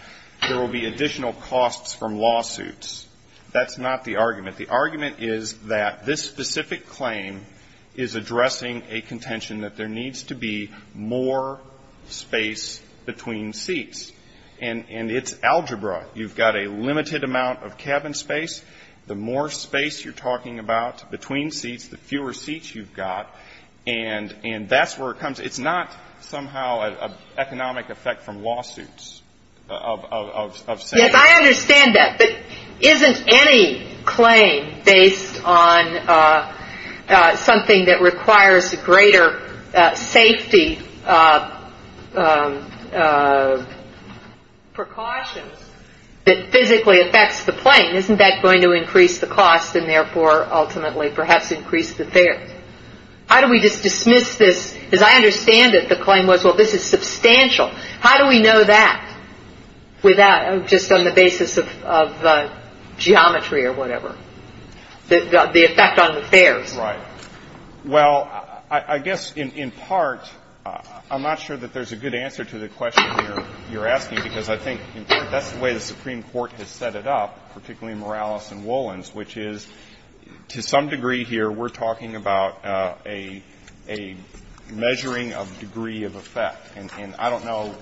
there will be additional costs from lawsuits. That's not the argument. The argument is that this specific claim is addressing a contention that there needs to be more space between seats. And it's algebra. You've got a limited amount of cabin space. The more space you're talking about between seats, the fewer seats you've got. And that's where it comes... It's not somehow an economic effect from that. There isn't any claim based on something that requires greater safety precautions that physically affects the plane. Isn't that going to increase the cost and therefore ultimately perhaps increase the fairness? How do we just dismiss this? Because I understand that the claim was, well, this is substantial. How do we know that just on the basis of geometry or whatever? The effect on the fares. Right. Well, I guess in part, I'm not sure that there's a good answer to the question you're asking because I think that's the way the Supreme Court has set it up, particularly Morales and Wolins, which is to some degree here we're talking about a measuring of degree of effect. And I don't know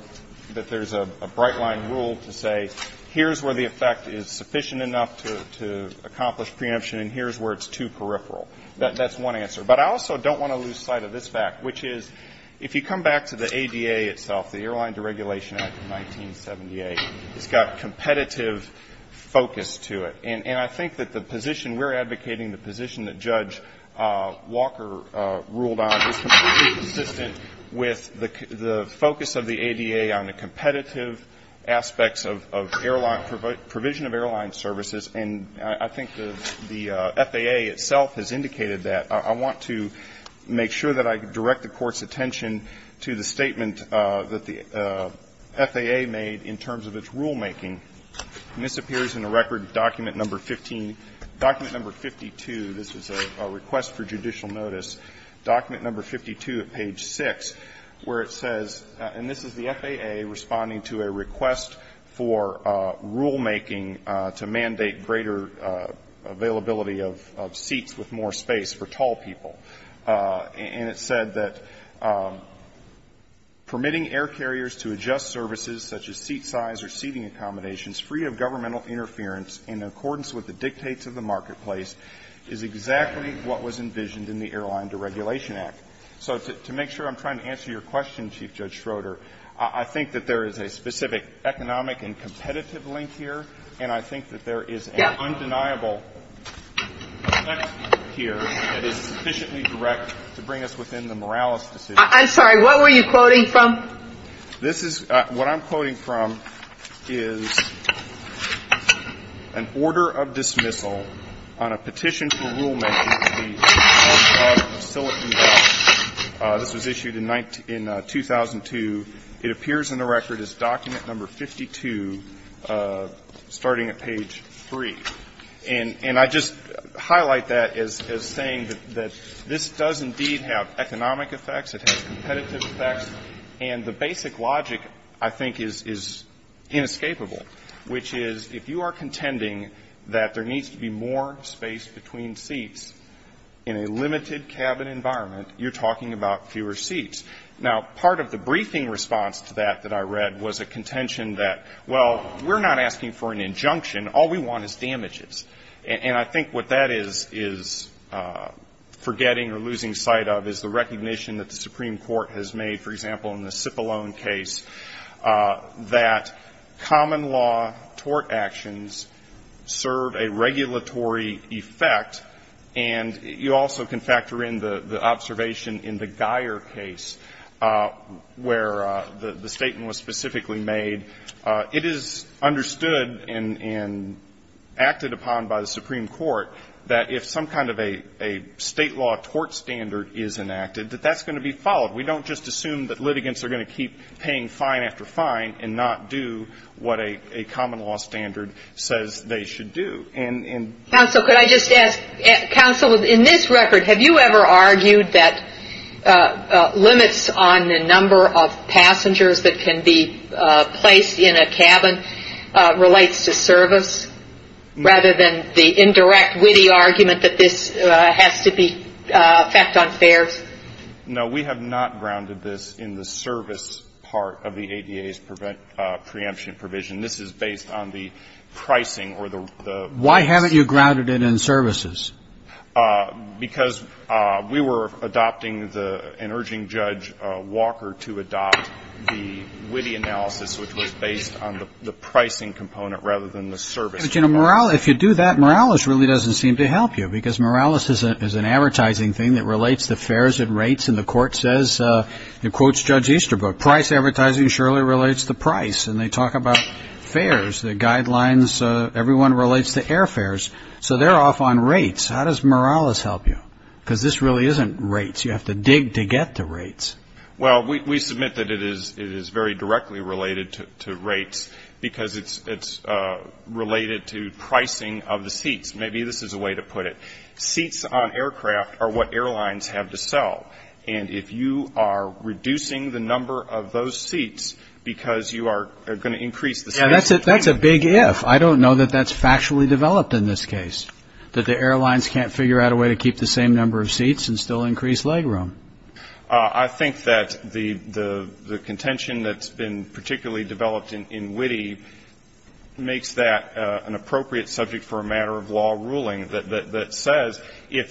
that there's a bright line rule to say here's where the effect is sufficient enough to accomplish preemption and here's where it's too peripheral. That's one answer. But I also don't want to lose sight of this fact, which is if you look at what Walker ruled on it's consistent with the focus of the ADA on the competitive aspects of airline services and I think the FAA itself has indicated that. I want to make sure that I direct the court's attention to the statement that the FAA made in terms of its rulemaking and this appears in a record document number 52 this is a request for judicial notice document number 52 at page 6 where it says and this is the FAA responding to a request for rule making on permitting air carriers to adjust services such as seat size or seating accommodations free of governmental interference in accordance with the dictates of the marketplace is exactly what was envisioned in the airline deregulation act so to make sure I'm trying to answer your question chief judge Schroeder I think there is a specific economic and competitive link here and I think that there is an undeniable effect here that is sufficiently direct to bring us within the Morales decision I'm sorry what were you quoting from this is what I'm quoting from is an order of dismissal on a petition for rule making this was issued in 2002 it appears in the record is document number 52 starting at page 3 and I just highlight that as saying that this does indeed have economic effects and the basic logic I think is inescapable which is if you are contending that there needs to be more space between seats in a limited cabin environment you're talking about fewer seats part of the briefing response was a contention that we're not asking for an regulatory effect and you also can factor in the observation in the Geier case where the statement was specifically made it is understood and acted upon by the Supreme Court that if some kind of a state law tort standard is enacted that that's going to be followed we don't just assume that litigants are going to keep paying fine after fine and not do what a common law standard says they should do in this record have you ever argued that limits on the number of passengers that can be placed in a cabin relates to service rather than the indirect witty argument that this has to be effect on fares no we have not grounded this in the service part of the based on the pricing component the service component of a community so the quality doesn't seem to help you because morales is a advertising relates to fare relates to airfares so they're off on rates how does morales help you because this really isn't rates you have to dig to get the rates well we submit that it is very directly related to rates because it's related to pricing of the seats maybe this is a way to put it seats on aircraft are what airlines have to sell and if you are reducing the number of those seats because you are going to increase the seats I think that the contention that's been developed in witty makes that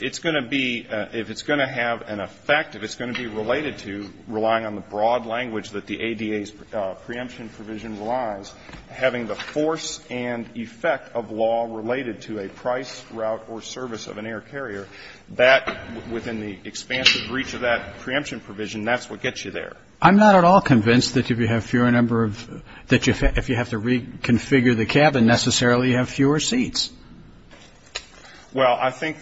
it's going to have an effect if it's going to be related to relying on the broad language having the force and effect of law related to a price route or service of an air carrier that within the expansion of the preemption provision that's what gets you there. I'm not at all convinced that if you have to reconfigure the cabin necessarily you have fewer seats. That's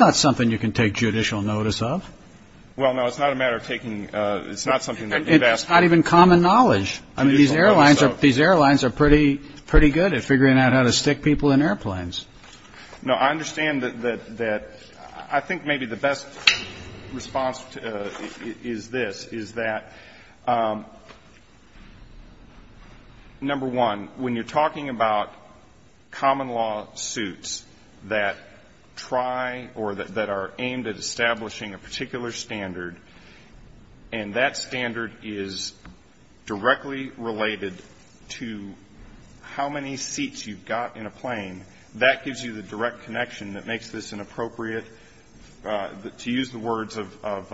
not something you can take judicial notice of. It's not even common knowledge. These are things that I think maybe the best response is this is that number one, when you're talking about common law suits that try or that are aimed at establishing a particular standard and that standard is directly related to how many seats you've got in a plane, that gives you the direct connection that makes this an appropriate, to use the words of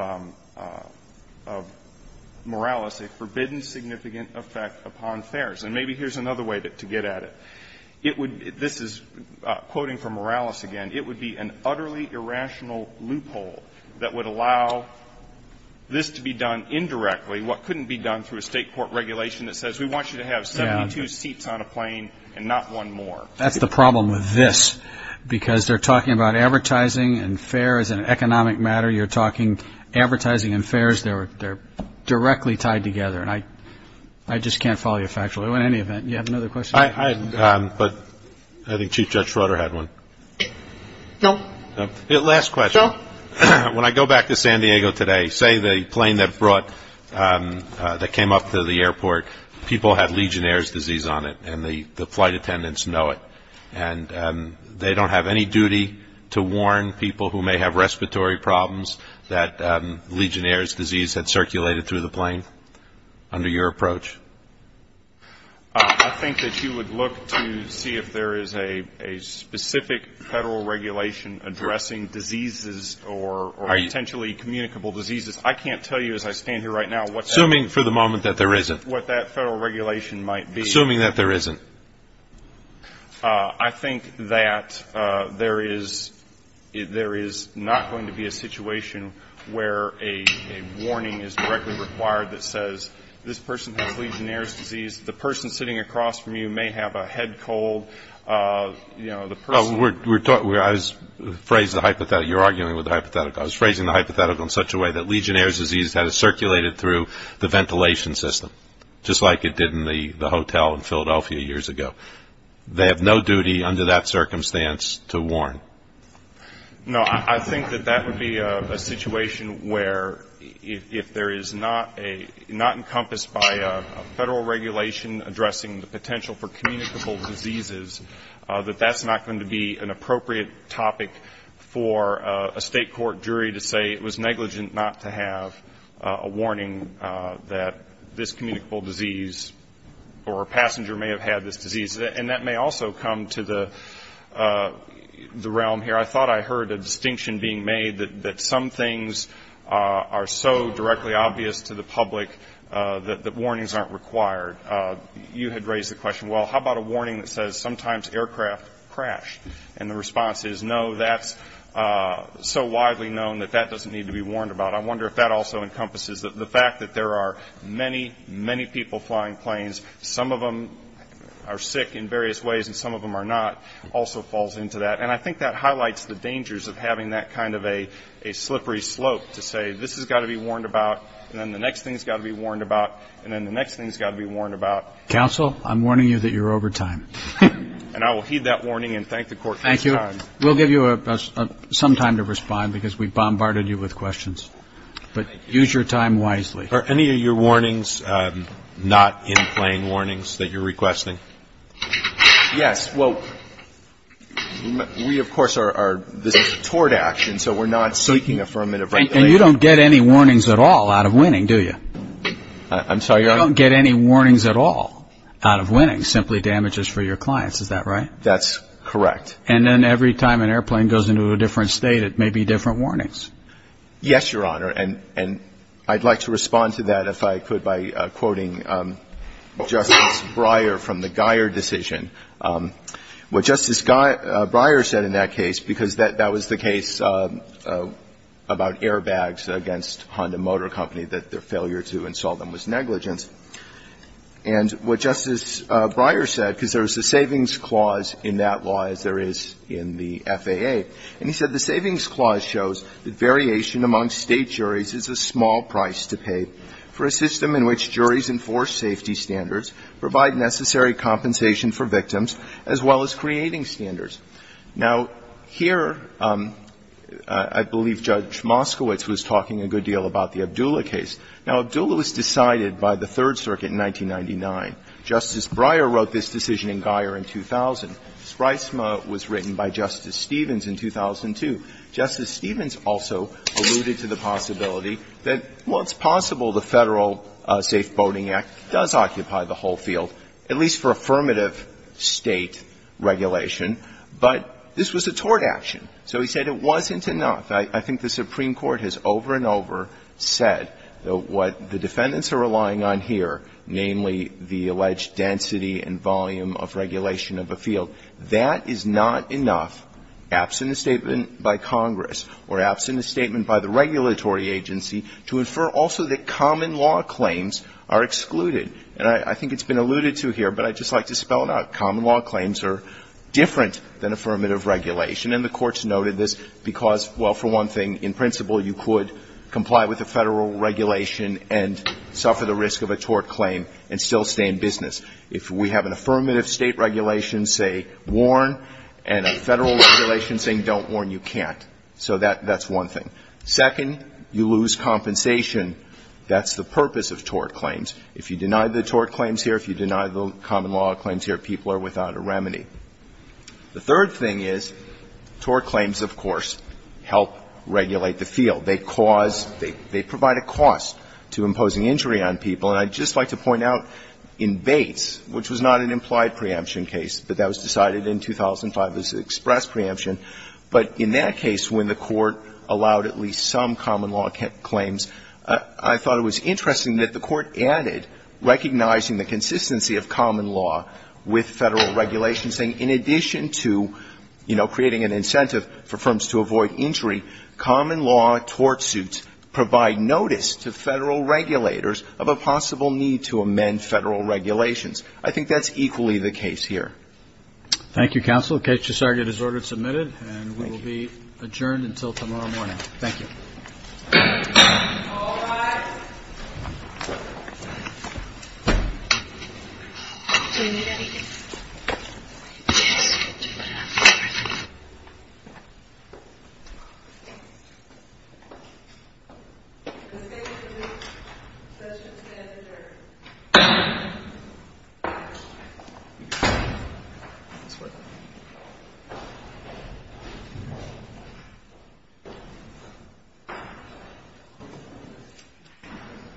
Morales, a forbidden significant effect upon fares. And maybe here's another way to get at it. This is quoting from Morales again, it would be an utterly irrational loophole that would allow this to be done indirectly, what couldn't be done through a fair. Because they're talking about advertising and fares and economic matter, you're talking advertising and fares, they're directly tied together. I just can't follow you factually. In any event, you have another question? I think Chief Judge Schroeder had one. No. Last question. When I go back to San Diego today, say the plane that came up to the airport, people had Legionnaire's disease on it and the flight attendants know it. And they don't have any duty to warn people who may have respiratory problems that Legionnaire's disease had circulated through the plane under your approach. I think that you would look to see if there is a specific federal regulation addressing diseases or potentially communicable diseases. I can't tell you as I stand here right now what that federal regulation might be. Assuming that there isn't. I think that there is not going to be a situation where a warning is directly required that says this person has Legionnaire's disease, the person sitting across from you may have a head cold, you know, the person. I was phrasing the hypothetical in such a way that Legionnaire's disease had circulated through the ventilation system just like it did in the hotel in Philadelphia years ago. They have no duty under that circumstance to warn. I think that that would be a situation where if there is not encompassed by a federal regulation addressing the potential for communicable diseases, that that's not going to be an appropriate topic for a state court jury to say it was negligent not to have a warning that this communicable disease or passenger may have had this disease. And that may also come to the realm here. I thought I heard a distinction being made that some things are so directly obvious to the public that warnings aren't required. You had raised the question, well, how about a warning that says sometimes aircraft crash? And the response is, no, that's so not correct. And I think that highlights the dangers of having that kind of a slippery slope to say this has to be warned about and the next thing has to be warned about and the next thing has to be warned about. And I will heed that warning and thank the court for his time. We'll give you some time to respond because we bombarded you with questions. But use your time wisely. Are any of your warnings not in plain warnings that you're requesting? Yes. Well, we, of course, are toward action so we're not seeking affirmative regulation. And you don't get any warnings at all out of winning, do you? I'm sorry, Your Honor? You don't get any warnings at all out of winning, simply damages for your clients, is that right? That's correct. And then every time an airplane goes into a different state it may be different warnings? Yes, Your Honor, and I'd like to that Justice Breyer was talking about against Honda Motor Company that their failure to insult them was negligence. And what Justice Breyer said, because there's a savings clause in that law as there is in the FAA, and he said the savings clause shows that variation among state juries is a small price to pay for a system in which juries enforce safety standards, provide necessary compensation for victims, as well as creating standards. Now, here, I believe Judge Moskowitz was talking a good deal about the Abdullah case. Now, Abdullah was decided by the Third Circuit in the United States to put it out for reference. Thank you.